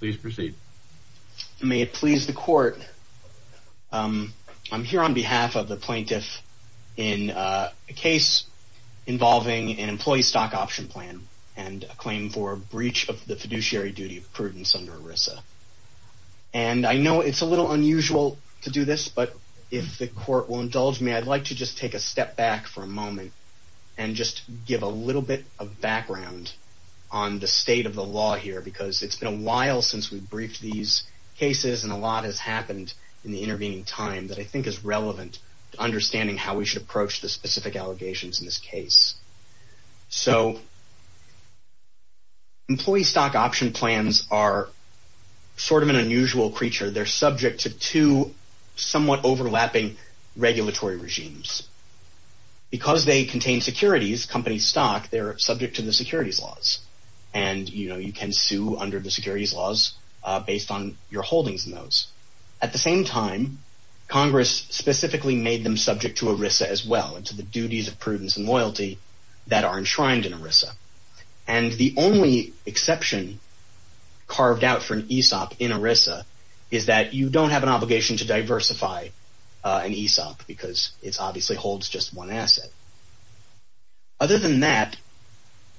May it please the court, I'm here on behalf of the plaintiff in a case involving an employee stock option plan and a claim for breach of the fiduciary duty of prudence under ERISA. And I know it's a little unusual to do this, but if the court will indulge me, I'd like to just take a step back for a moment and just give a little bit of background on the state of the law here because it's been a while since we've briefed these cases and a lot has happened in the intervening time that I think is relevant to understanding how we should approach the specific allegations in this case. So employee stock option plans are sort of an unusual creature. They're subject to two somewhat overlapping regulatory regimes. Because they contain securities, company stock, they're can sue under the securities laws based on your holdings in those. At the same time, Congress specifically made them subject to ERISA as well and to the duties of prudence and loyalty that are enshrined in ERISA. And the only exception carved out for an ESOP in ERISA is that you don't have an obligation to diversify an ESOP because it's obviously holds just one asset. Other than that,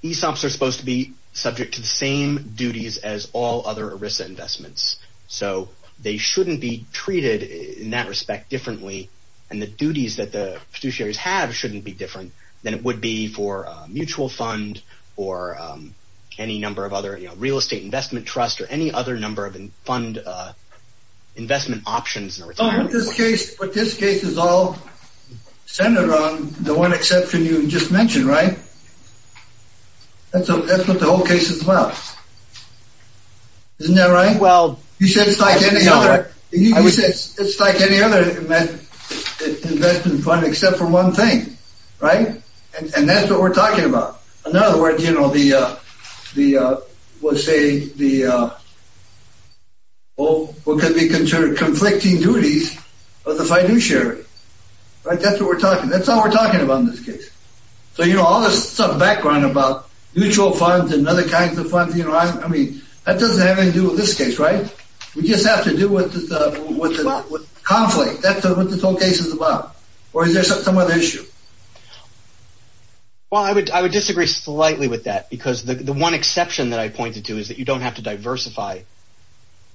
ESOPs are supposed to be subject to the same duties as all other ERISA investments. So they shouldn't be treated in that respect differently and the duties that the fiduciaries have shouldn't be different than it would be for a mutual fund or any number of other, you know, real estate investment trust or any other number of fund investment options. But this case is all centered on the one exception you just mentioned, right? That's what the whole case is about. Isn't that right? Well, you said it's like any other investment fund except for one thing, right? And that's what we're talking about. In other words, you know, what could be considered conflicting duties of the fiduciary, right? That's what we're talking. That's all we're talking about in this case. So, you know, all this background about mutual funds and other kinds of funds, you know, I mean, that doesn't have anything to do with this case, right? We just have to do with the conflict. That's what this whole case is about. Or is there some other issue? Well, I would disagree slightly with that because the one exception that I pointed to is that you don't have to diversify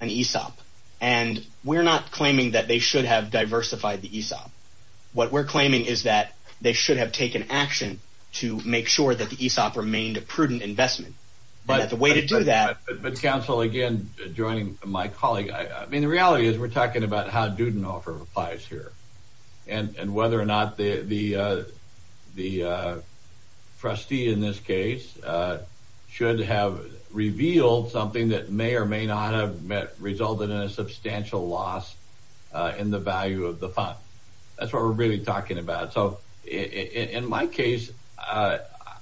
an ESOP. And we're not claiming that they should have diversified the ESOP. What we're claiming is that they should have taken action to make sure that the ESOP remained a prudent investment. But the way to do that... But counsel, again, joining my colleague, I mean, the reality is we're talking about how Dudenhofer applies here and whether or not the trustee in this case should have revealed something that may or may not have resulted in a substantial loss in the value of the fund. That's what we're really talking about. So in my case,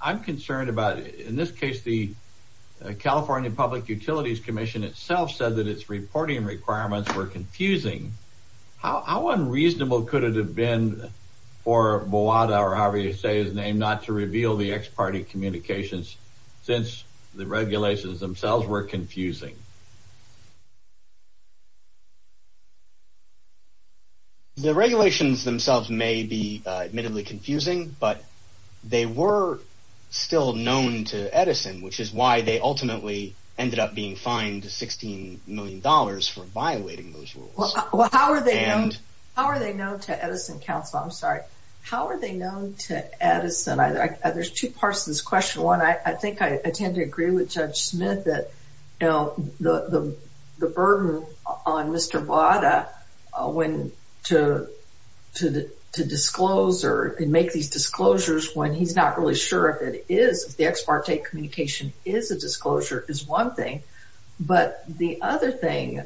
I'm concerned about, in this case, the California Public Utilities Commission itself said that its reporting requirements were confusing. How unreasonable could it have been for Boada, or however you say his name, not to reveal the ex-party communications since the regulations themselves were confusing? The regulations themselves may be admittedly confusing, but they were still known to Edison, which is why they ultimately ended up being fined $16 million for violating those rules. Well, how are they known to Edison, counsel? I'm sorry. How are they known to Edison? There's two parts to this question. One, I think I tend to agree with Judge Smith that the burden on Mr. Boada to disclose or make these disclosures when he's not really sure if it is the ex-parte communication is a disclosure is one thing. But the other thing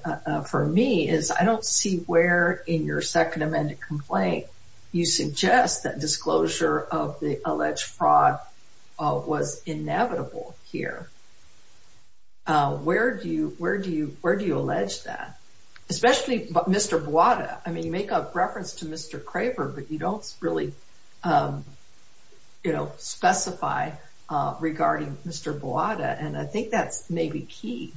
for me is I don't see where in your second amended complaint you suggest that disclosure of the alleged fraud was inevitable here. Where do you allege that? Especially Mr. Boada. I mean, you make a reference to Mr. Craver, but you don't really specify regarding Mr. Boada, and I think that's maybe key.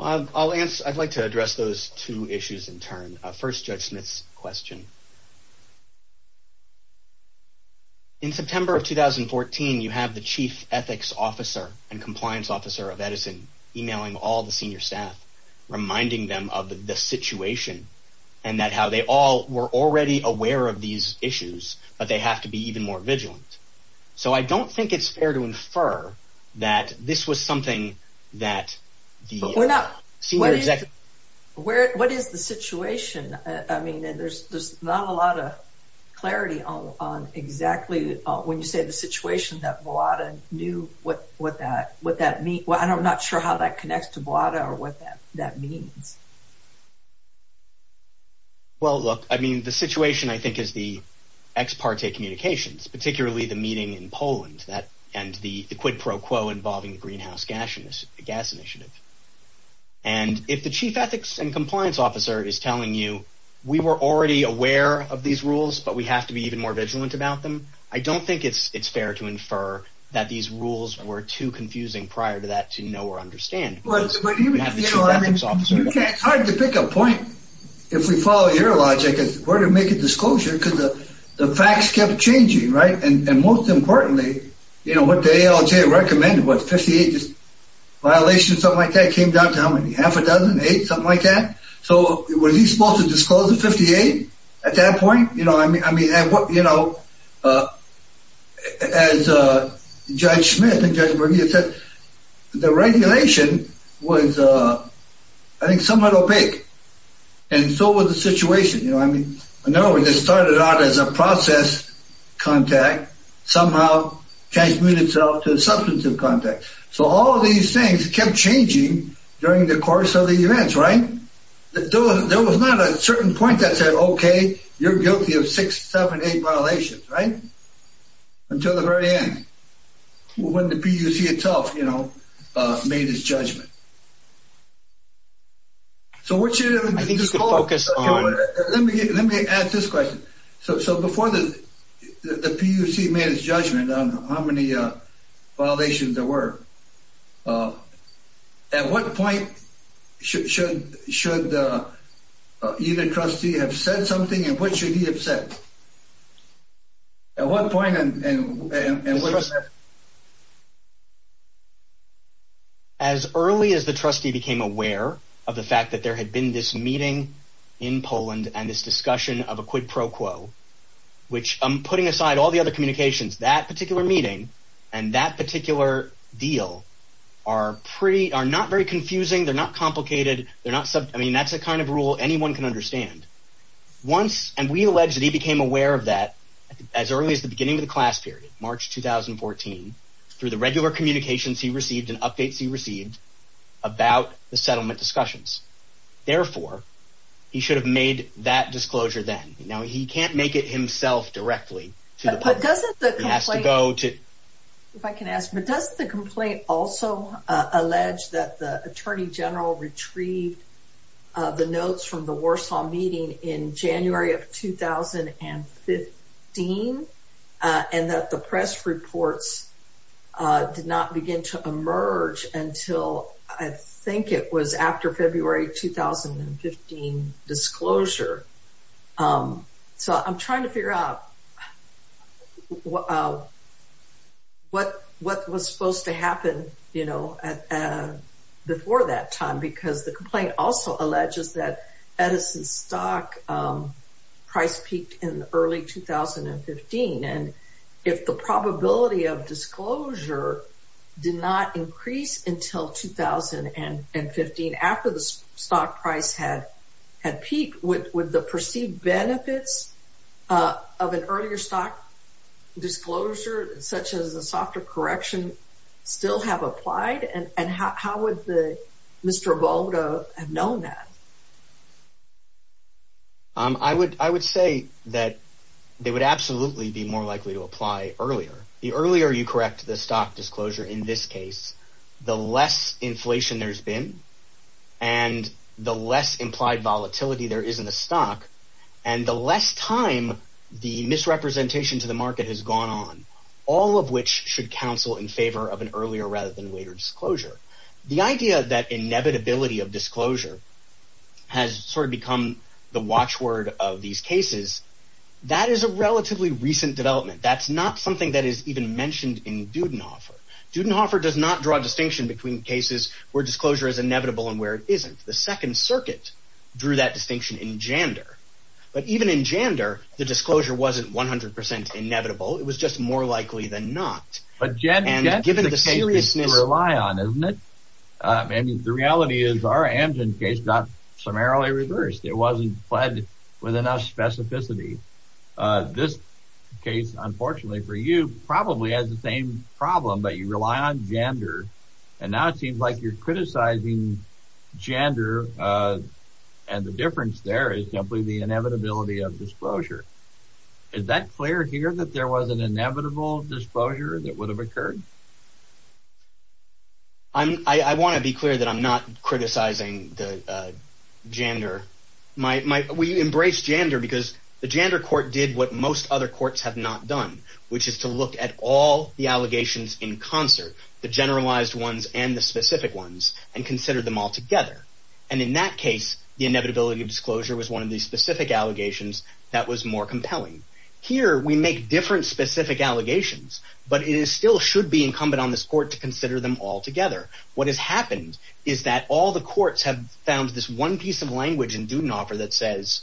I'd like to address those two issues in turn. First, Judge Smith's question. In September of 2014, you have the Chief Ethics Officer and Compliance Officer of Edison emailing all the senior staff, reminding them of the situation and that how they all were already aware of these issues, but they have to be even more vigilant. So I don't think it's fair to infer that this was something that the senior executives... What is the situation? I mean, there's not a lot of clarity on exactly when you say the that connects to Boada or what that means. Well, look, I mean, the situation I think is the ex-parte communications, particularly the meeting in Poland and the quid pro quo involving the greenhouse gas initiative. And if the Chief Ethics and Compliance Officer is telling you we were already aware of these rules, but we have to be even more vigilant about them, I don't think it's fair to infer that these rules were too confusing prior to that to know or understand. It's hard to pick a point, if we follow your logic, where to make a disclosure because the facts kept changing, right? And most importantly, what the ALJ recommended was 58 violations, something like that, came down to how many? Half a dozen? Eight? Something like that? So was he supposed to disclose the 58 at that point? I mean, as Judge Smith and Judge Bernier said, the regulation was, I think, somewhat opaque. And so was the situation. I mean, in other words, it started out as a process contact, somehow transmuted itself to a substantive contact. So all these things kept changing during the course of the events, right? There was not a certain point that said, okay, you're guilty of six, seven, eight violations, right? Until the very end. When the PUC itself, you know, made its judgment. So what should it have been disclosed? Let me ask this question. So before the PUC made its judgment on how many violations there were, at what point should either trustee have said something, and what should he have said? As early as the trustee became aware of the fact that there had been this meeting in Poland and this discussion of a quid pro quo, which I'm putting aside all the other communications, that particular meeting and that particular deal are not very confusing. They're not complicated. I mean, that's a kind of rule anyone can understand. And we allege that he became aware of that as early as the beginning of the class period, March 2014, through the regular communications he received and updates he received about the settlement discussions. Therefore, he should have made that disclosure then. Now, he can't make it himself directly to the public. But doesn't the complaint... He has to go to... If I can ask, but does the complaint also allege that the Attorney General retrieved the notes from the Warsaw meeting in January of 2015, and that the press reports did not begin to emerge until, I think it was after February 2015 disclosure? So I'm trying to figure out what was supposed to happen before that time, because the complaint also alleges that Edison's stock price peaked in early 2015. And if the probability of disclosure did not increase until 2015, after the stock price had peaked, would the perceived benefits of an earlier stock disclosure, such as a softer correction, still have applied? And how would Mr. Volga have known that? I would say that they would absolutely be more likely to apply earlier. The earlier you correct the stock disclosure in this case, the less inflation there's been, and the less implied volatility there is in the stock, and the less time the misrepresentation to the market has gone on, all of which should counsel in favor of an earlier rather than later disclosure. The idea that inevitability of disclosure has sort of become the watchword of these cases, that is a relatively recent development. That's not something that is even mentioned in Dudenhofer. Dudenhofer does not draw a distinction between cases where disclosure is inevitable and where it isn't. The Second Circuit drew that distinction in Jander. But even in Jander, the disclosure wasn't 100% inevitable. It was just more likely than not. But Jander is a case you rely on, isn't it? I mean, the reality is our Amgen case got summarily reversed. It wasn't fled with enough specificity. This case, unfortunately for you, probably has the same problem, but you rely on Jander. And now it seems like you're criticizing Jander, Is that clear here that there was an inevitable disclosure that would have occurred? I want to be clear that I'm not criticizing Jander. We embrace Jander because the Jander court did what most other courts have not done, which is to look at all the allegations in concert, the generalized ones and the specific ones, and consider them all together. And in that case, the inevitability of disclosure was one of the specific allegations that was more compelling. Here, we make different specific allegations, but it still should be incumbent on this court to consider them all together. What has happened is that all the courts have found this one piece of language in Dudenhofer that says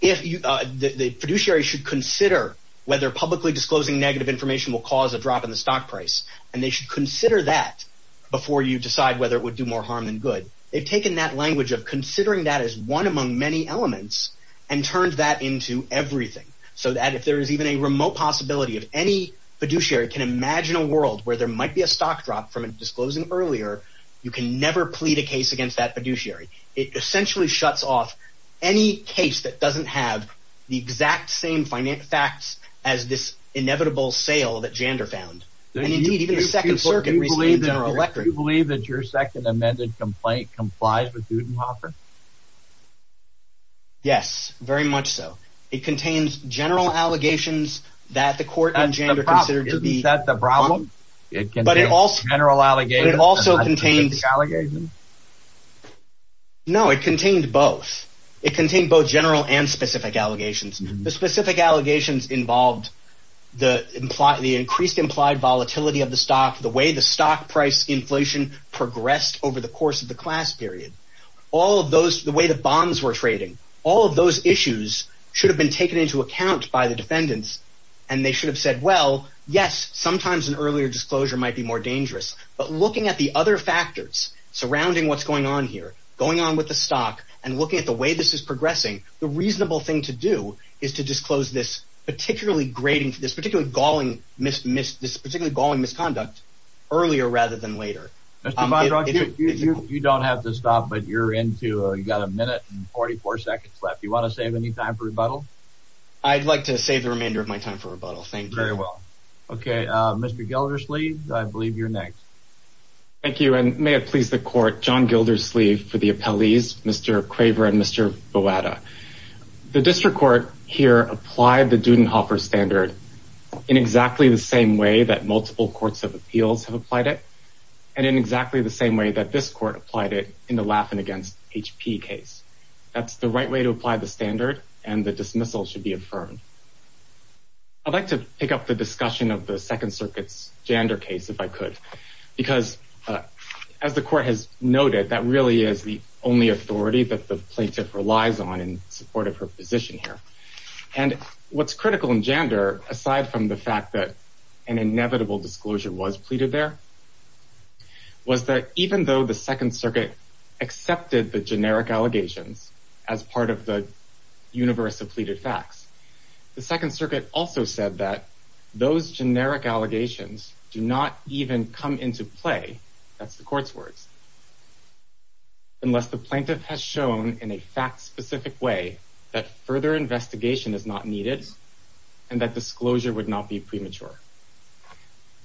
the fiduciary should consider whether publicly disclosing negative information will cause a drop in the stock price, and they should consider that before you decide whether it would do more harm than good. They've taken that language of considering that as one among many elements and turned that into everything, so that if there is even a remote possibility of any fiduciary can imagine a world where there might be a stock drop from disclosing earlier, you can never plead a case against that fiduciary. It essentially shuts off any case that doesn't have the exact same facts as this inevitable sale that Jander found. And indeed, even the Second Circuit received a general election. Do you believe that your second amended complaint complies with Dudenhofer? Yes, very much so. It contains general allegations that the court and Jander considered to be… Is that the problem? It contains general allegations and not specific allegations? No, it contained both. It contained both general and specific allegations. The specific allegations involved the increased implied volatility of the stock, the way the stock price inflation progressed over the course of the class period. All of those, the way the bonds were trading. All of those issues should have been taken into account by the defendants and they should have said, well, yes, sometimes an earlier disclosure might be more dangerous, but looking at the other factors surrounding what's going on here, going on with the stock and looking at the way this is progressing, the reasonable thing to do is to disclose this particularly galling misconduct earlier rather than later. Mr. Fondrock, you don't have to stop, but you're into, you've got a minute and 44 seconds left. Do you want to save any time for rebuttal? I'd like to save the remainder of my time for rebuttal, thank you. Very well. Okay, Mr. Gildersleeve, I believe you're next. Thank you, and may it please the court, John Gildersleeve for the appellees, Mr. Craver and Mr. Boada. The district court here applied the Dudenhofer standard in exactly the same way that multiple courts of appeals have applied it, and in exactly the same way that this court applied it in the Laffin against HP case. That's the right way to apply the standard, and the dismissal should be affirmed. I'd like to pick up the discussion of the Second Circuit's Jander case, if I could, because as the court has noted, that really is the only authority that the plaintiff relies on in support of her position here. And what's critical in Jander, aside from the fact that an inevitable disclosure was pleaded there, was that even though the Second Circuit accepted the generic allegations as part of the universe of pleaded facts, the Second Circuit also said that those generic allegations do not even come into play, that's the court's words, unless the plaintiff has shown in a fact-specific way that further investigation is not needed, and that disclosure would not be premature.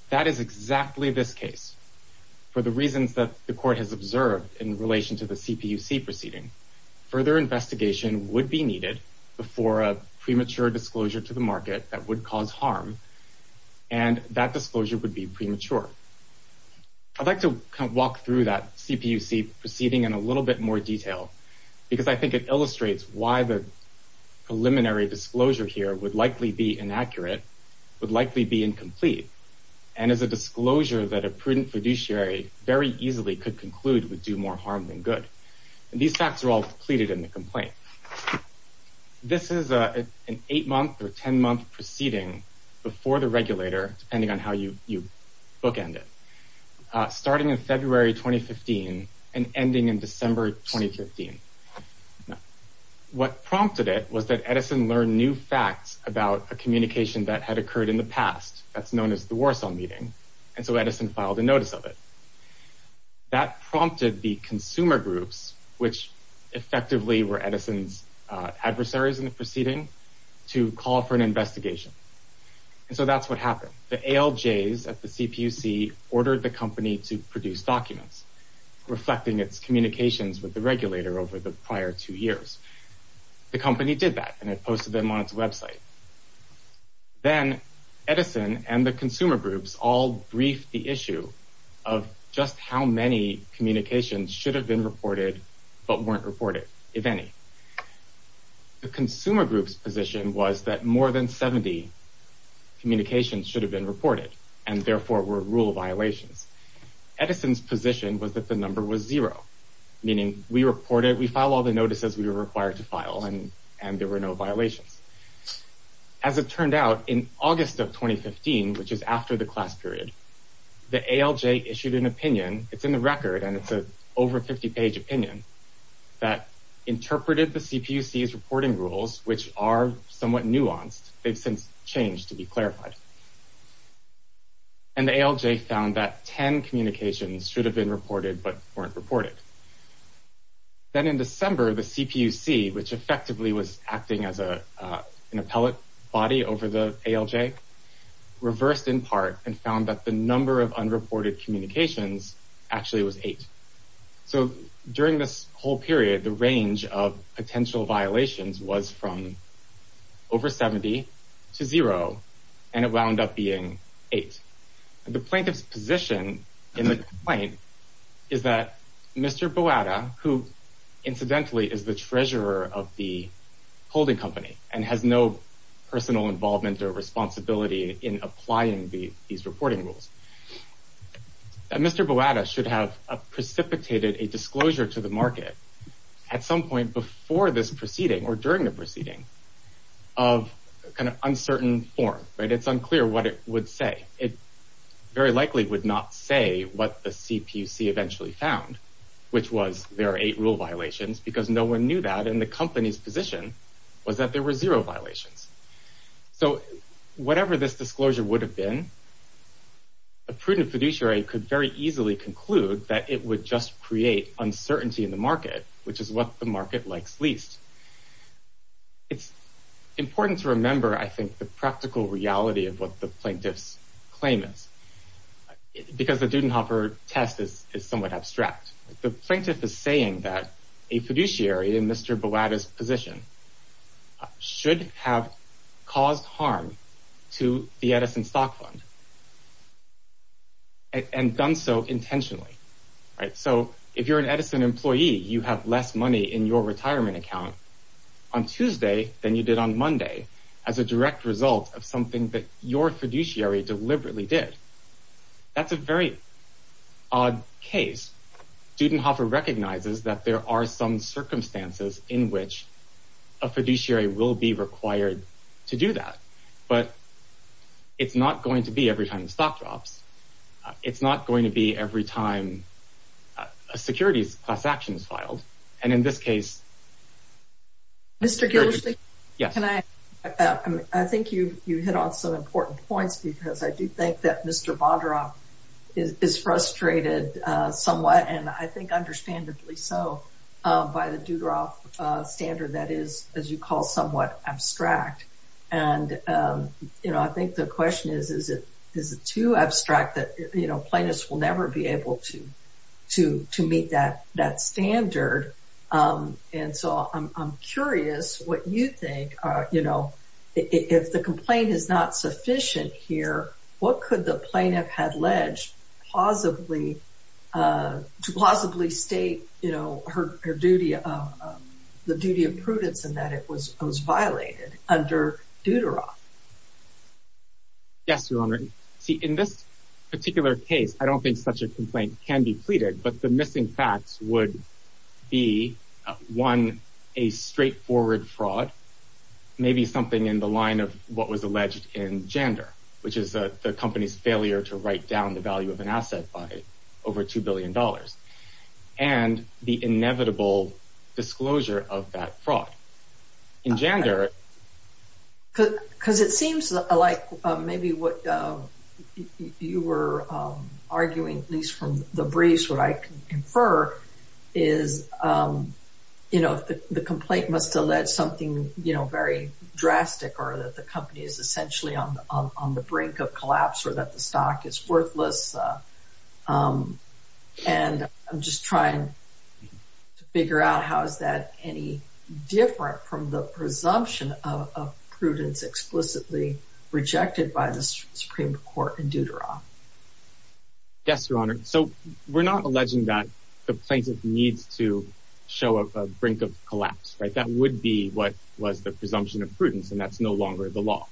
That is exactly this case. For the reasons that the court has observed in relation to the CPUC proceeding, further investigation would be needed before a premature disclosure to the market that would cause harm, and that disclosure would be premature. I'd like to walk through that CPUC proceeding in a little bit more detail, because I think it illustrates why the preliminary disclosure here would likely be inaccurate, would likely be incomplete, and is a disclosure that a prudent fiduciary very easily could conclude would do more harm than good. And these facts are all pleaded in the complaint. This is an eight-month or ten-month proceeding before the regulator, depending on how you bookend it, starting in February 2015 and ending in December 2015. What prompted it was that Edison learned new facts about a communication that had occurred in the past, that's known as the Warsaw meeting, and so Edison filed a notice of it. That prompted the consumer groups, which effectively were Edison's adversaries in the proceeding, to call for an investigation, and so that's what happened. The ALJs at the CPUC ordered the company to produce documents, reflecting its communications with the regulator over the prior two years. The company did that, and it posted them on its website. Then Edison and the consumer groups all briefed the issue of just how many communications should have been reported, but weren't reported, if any. The consumer group's position was that more than 70 communications should have been reported, and therefore were rule violations. Edison's position was that the number was zero, meaning we reported, we filed all the notices we were required to file, and there were no violations. As it turned out, in August of 2015, which is after the class period, the ALJ issued an opinion, it's in the record, and it's an over 50-page opinion, that interpreted the CPUC's reporting rules, which are somewhat nuanced, they've since changed to be clarified. And the ALJ found that 10 communications should have been reported, but weren't reported. Then in December, the CPUC, which effectively was acting as an appellate body over the ALJ, reversed in part, and found that the number of unreported communications actually was eight. So during this whole period, the range of potential violations was from over 70 to zero, and it wound up being eight. The plaintiff's position in the complaint is that Mr. Boada, who incidentally is the treasurer of the holding company, and has no personal involvement or responsibility in applying these reporting rules, that Mr. Boada should have precipitated a disclosure to the market at some point before this proceeding, or during the proceeding, of an uncertain form. It's unclear what it would say. It very likely would not say what the CPUC eventually found, which was there are eight rule violations, because no one knew that, and the company's position was that there were zero violations. So whatever this disclosure would have been, a prudent fiduciary could very easily conclude that it would just create uncertainty in the market, which is what the market likes least. It's important to remember, I think, the practical reality of what the plaintiff's claim is, because the Dudenhofer test is somewhat abstract. The plaintiff is saying that a fiduciary in Mr. Boada's position should have caused harm to the Edison stock fund, and done so intentionally. So if you're an Edison employee, you have less money in your retirement account on Tuesday than you did on Monday, as a direct result of something that your fiduciary deliberately did. That's a very odd case. Dudenhofer recognizes that there are some circumstances in which a fiduciary will be required to do that, but it's not going to be every time the stock drops. It's not going to be every time a securities class action is filed. And in this case... Mr. Gillespie, I think you hit on some important points, because I do think that Mr. Bodroff is frustrated somewhat, and I think understandably so, by the Dudenhofer standard that is, as you call it, somewhat abstract. I think the question is, is it too abstract that plaintiffs will never be able to meet that standard? And so I'm curious what you think. If the complaint is not sufficient here, what could the plaintiff have alleged to plausibly state the duty of prudence in that it was violated under Dudenhofer? Yes, Your Honor. See, in this particular case, I don't think such a complaint can be pleaded, but the missing facts would be, one, a straightforward fraud, maybe something in the line of what was alleged in Jander, which is the company's failure to write down the value of an asset by over $2 billion, and the inevitable disclosure of that fraud. In Jander... Because it seems like maybe what you were arguing, at least from the briefs, what I can infer is, you know, the complaint must allege something, you know, very drastic, or that the company is essentially on the brink of collapse, or that the stock is worthless. And I'm just trying to figure out how is that any different from the presumption of prudence explicitly rejected by the Supreme Court in Deuteron. Yes, Your Honor. So we're not alleging that the plaintiff needs to show a brink of collapse, right? That would be what was the presumption of prudence, and that's no longer the law.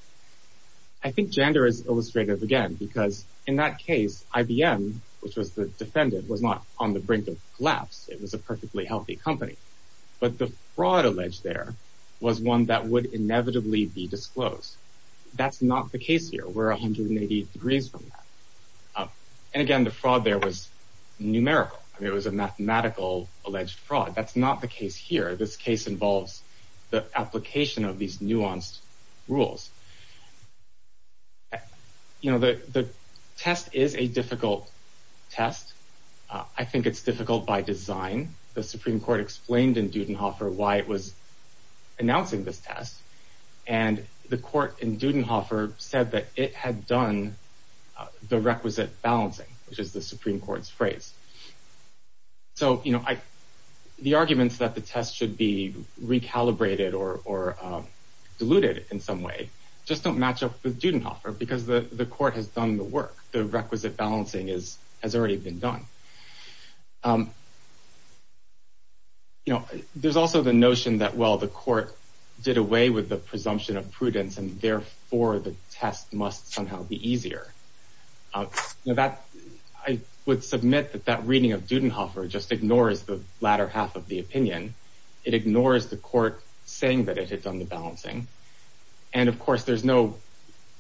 I think Jander is illustrative again, because in that case, IBM, which was the defendant, was not on the brink of collapse. It was a perfectly healthy company. But the fraud alleged there was one that would inevitably be disclosed. That's not the case here. We're 180 degrees from that. And again, the fraud there was numerical. It was a mathematical alleged fraud. That's not the case here. This case involves the application of these nuanced rules. You know, the test is a difficult test. I think it's difficult by design. The Supreme Court explained in Dudenhofer why it was announcing this test, and the court in Dudenhofer said that it had done the requisite balancing, which is the Supreme Court's phrase. So, you know, the arguments that the test should be recalibrated or diluted in some way just don't match up with Dudenhofer, because the court has done the work. The requisite balancing has already been done. You know, there's also the notion that, well, the court did away with the presumption of prudence, and therefore the test must somehow be easier. I would submit that that reading of Dudenhofer just ignores the latter half of the opinion. It ignores the court saying that it had done the balancing. And, of course, there's no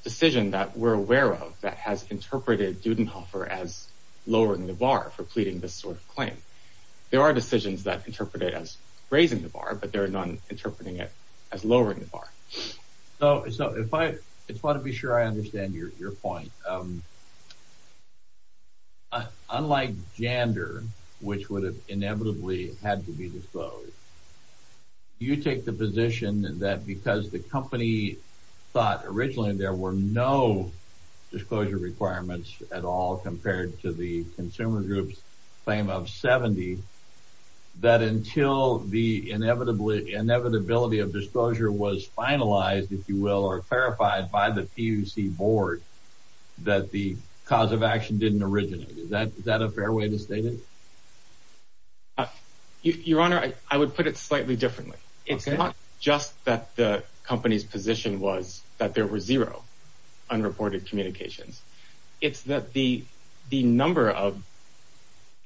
decision that we're aware of that has interpreted Dudenhofer as lowering the bar for pleading this sort of claim. There are decisions that interpret it as raising the bar, but there are none interpreting it as lowering the bar. So if I—I just want to be sure I understand your point. Unlike Jander, which would have inevitably had to be disclosed, you take the position that because the company thought originally there were no disclosure requirements at all compared to the consumer group's claim of 70, that until the inevitability of disclosure was finalized, if you will, or clarified by the PUC board, that the cause of action didn't originate. Is that a fair way to state it? Your Honor, I would put it slightly differently. It's not just that the company's position was that there were zero unreported communications. It's that the number of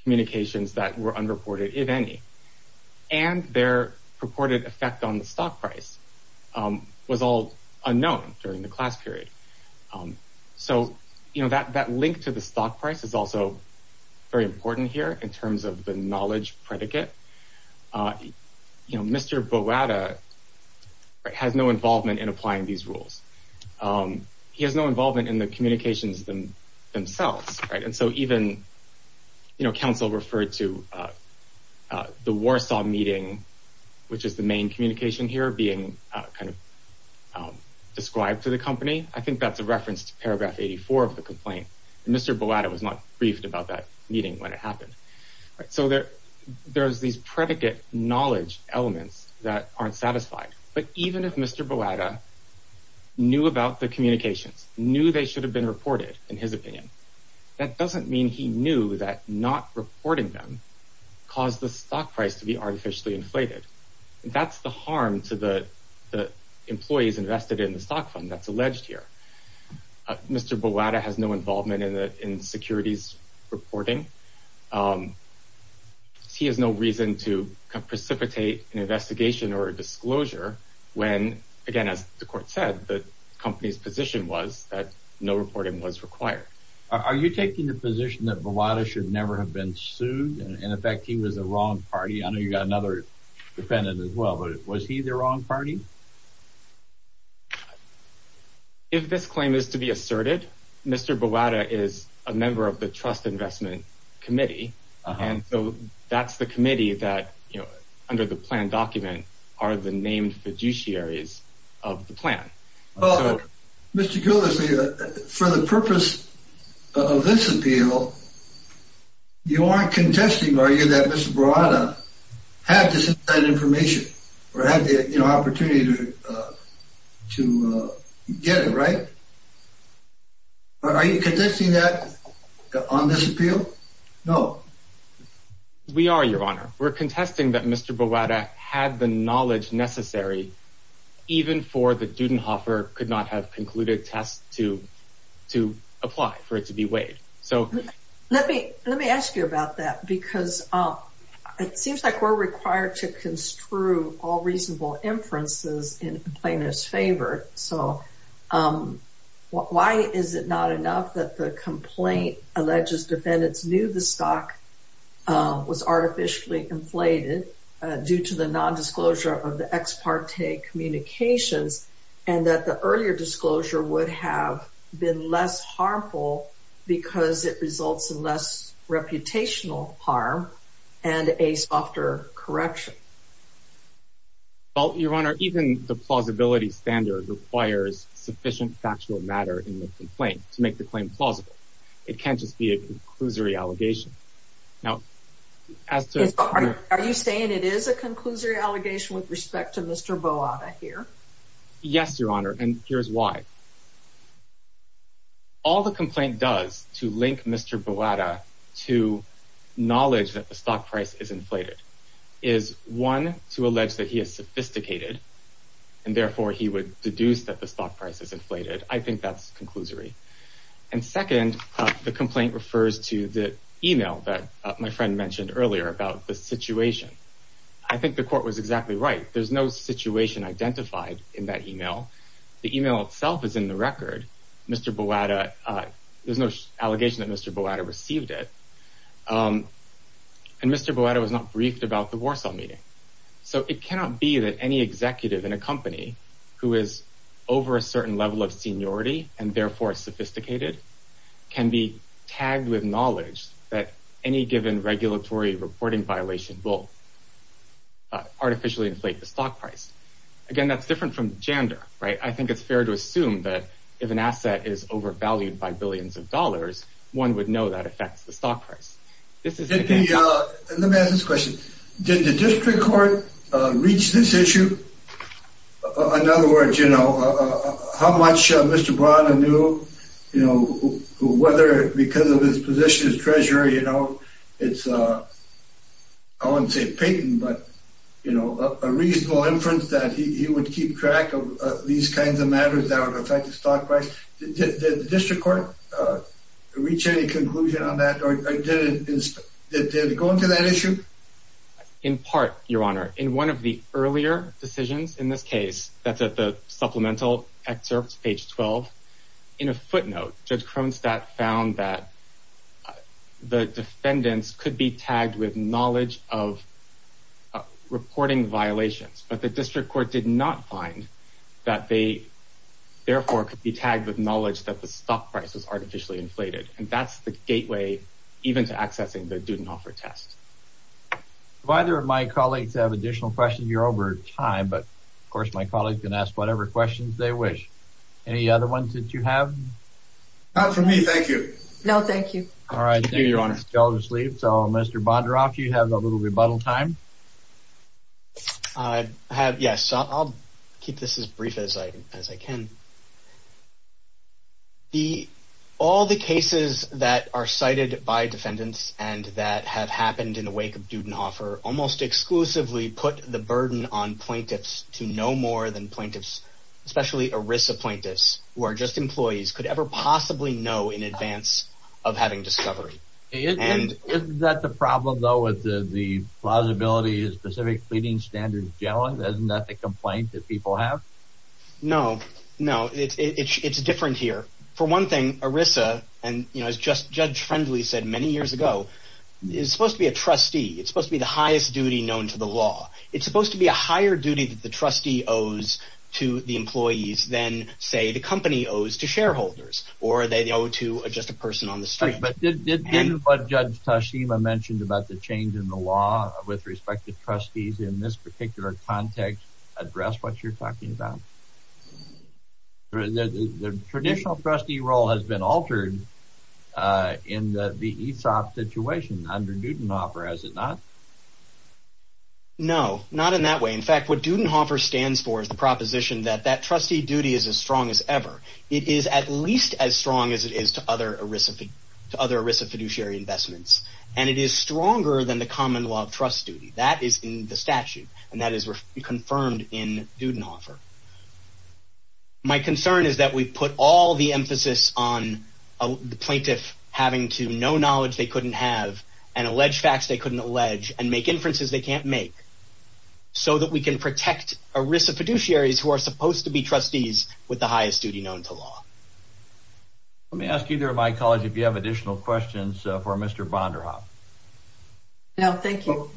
communications that were unreported, if any, and their purported effect on the stock price was all unknown during the class period. So, you know, that link to the stock price is also very important here in terms of the knowledge predicate. You know, Mr. Boada has no involvement in applying these rules. He has no involvement in the communications themselves, right? And so even, you know, counsel referred to the Warsaw meeting, which is the main communication here, being kind of described to the company. I think that's a reference to paragraph 84 of the complaint. Mr. Boada was not briefed about that meeting when it happened. So there's these predicate knowledge elements that aren't satisfied. But even if Mr. Boada knew about the communications, knew they should have been reported, in his opinion, that doesn't mean he knew that not reporting them caused the stock price to be artificially inflated. That's the harm to the employees invested in the stock fund that's alleged here. Mr. Boada has no involvement in securities reporting. He has no reason to precipitate an investigation or a disclosure when, again, as the court said, the company's position was that no reporting was required. Are you taking the position that Boada should never have been sued? In effect, he was the wrong party. I know you've got another defendant as well, but was he the wrong party? If this claim is to be asserted, Mr. Boada is a member of the Trust Investment Committee. And so that's the committee that, you know, under the plan document, are the named fiduciaries of the plan. Well, Mr. Gillespie, for the purpose of this appeal, you aren't contesting, are you, that Mr. Boada had this information or had the opportunity to get it, right? Are you contesting that on this appeal? No. We are, Your Honor. We're contesting that Mr. Boada had the knowledge necessary, even for the Dudenhofer could not have concluded test to apply for it to be weighed. Let me ask you about that because it seems like we're required to construe all reasonable inferences in plaintiff's favor. So why is it not enough that the complaint alleges defendants knew the stock was artificially inflated due to the nondisclosure of the ex parte communications and that the earlier disclosure would have been less harmful because it results in less reputational harm and a softer correction? Well, Your Honor, even the plausibility standard requires sufficient factual matter in the complaint to make the claim plausible. It can't just be a conclusory allegation. Are you saying it is a conclusory allegation with respect to Mr. Boada here? Yes, Your Honor, and here's why. All the complaint does to link Mr. Boada to knowledge that the stock price is inflated is one, to allege that he is sophisticated and therefore he would deduce that the stock price is inflated. I think that's conclusory. And second, the complaint refers to the email that my friend mentioned earlier about the situation. I think the court was exactly right. There's no situation identified in that email. The email itself is in the record. Mr. Boada, there's no allegation that Mr. Boada received it. And Mr. Boada was not briefed about the Warsaw meeting. So it cannot be that any executive in a company who is over a certain level of seniority and therefore sophisticated can be tagged with knowledge that any given regulatory reporting violation will artificially inflate the stock price. Again, that's different from gender, right? I think it's fair to assume that if an asset is overvalued by billions of dollars, one would know that affects the stock price. Let me ask this question. Did the district court reach this issue? In other words, you know, how much Mr. Boada knew, you know, whether because of his position as treasurer, you know, it's, I wouldn't say patent, but, you know, a reasonable inference that he would keep track of these kinds of matters that would affect the stock price. Did the district court reach any conclusion on that or did it go into that issue? In part, your honor, in one of the earlier decisions in this case, that's at the supplemental excerpts, page 12. In a footnote, Judge Kronstadt found that the defendants could be tagged with knowledge of reporting violations, but the district court did not find that they therefore could be tagged with knowledge that the stock price was artificially inflated. And that's the gateway even to accessing the due and offer test. If either of my colleagues have additional questions, you're over time, but of course, my colleagues can ask whatever questions they wish. Any other ones that you have? Not for me, thank you. No, thank you. All right. Thank you, your honor. So, Mr. Bondaroff, do you have a little rebuttal time? Yes, I'll keep this as brief as I can. All the cases that are cited by defendants and that have happened in the wake of due and offer almost exclusively put the burden on plaintiffs to know more than plaintiffs, especially ERISA plaintiffs, who are just employees, could ever possibly know in advance of having discovery. Isn't that the problem, though, with the plausibility of specific pleading standards generally? Isn't that the complaint that people have? No, no, it's different here. For one thing, ERISA, and as Judge Friendly said many years ago, is supposed to be a trustee. It's supposed to be the highest duty known to the law. It's supposed to be a higher duty that the trustee owes to the employees than, say, the company owes to shareholders or they owe to just a person on the street. But didn't what Judge Tashima mentioned about the change in the law with respect to trustees in this particular context address what you're talking about? The traditional trustee role has been altered in the ESOP situation under due and offer, has it not? No, not in that way. In fact, what due and offer stands for is the proposition that that trustee duty is as strong as ever. It is at least as strong as it is to other ERISA fiduciary investments, and it is stronger than the common law of trust duty. That is in the statute, and that is confirmed in due and offer. My concern is that we put all the emphasis on the plaintiff having to know knowledge they couldn't have and allege facts they couldn't allege and make inferences they can't make so that we can protect ERISA fiduciaries who are supposed to be trustees with the highest duty known to law. Let me ask either of my colleagues if you have additional questions for Mr. Vonderhaup. No, thank you.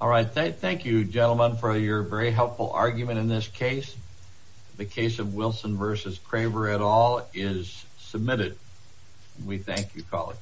All right, thank you, gentlemen, for your very helpful argument in this case. The case of Wilson v. Craver et al. is submitted. We thank you, colleague.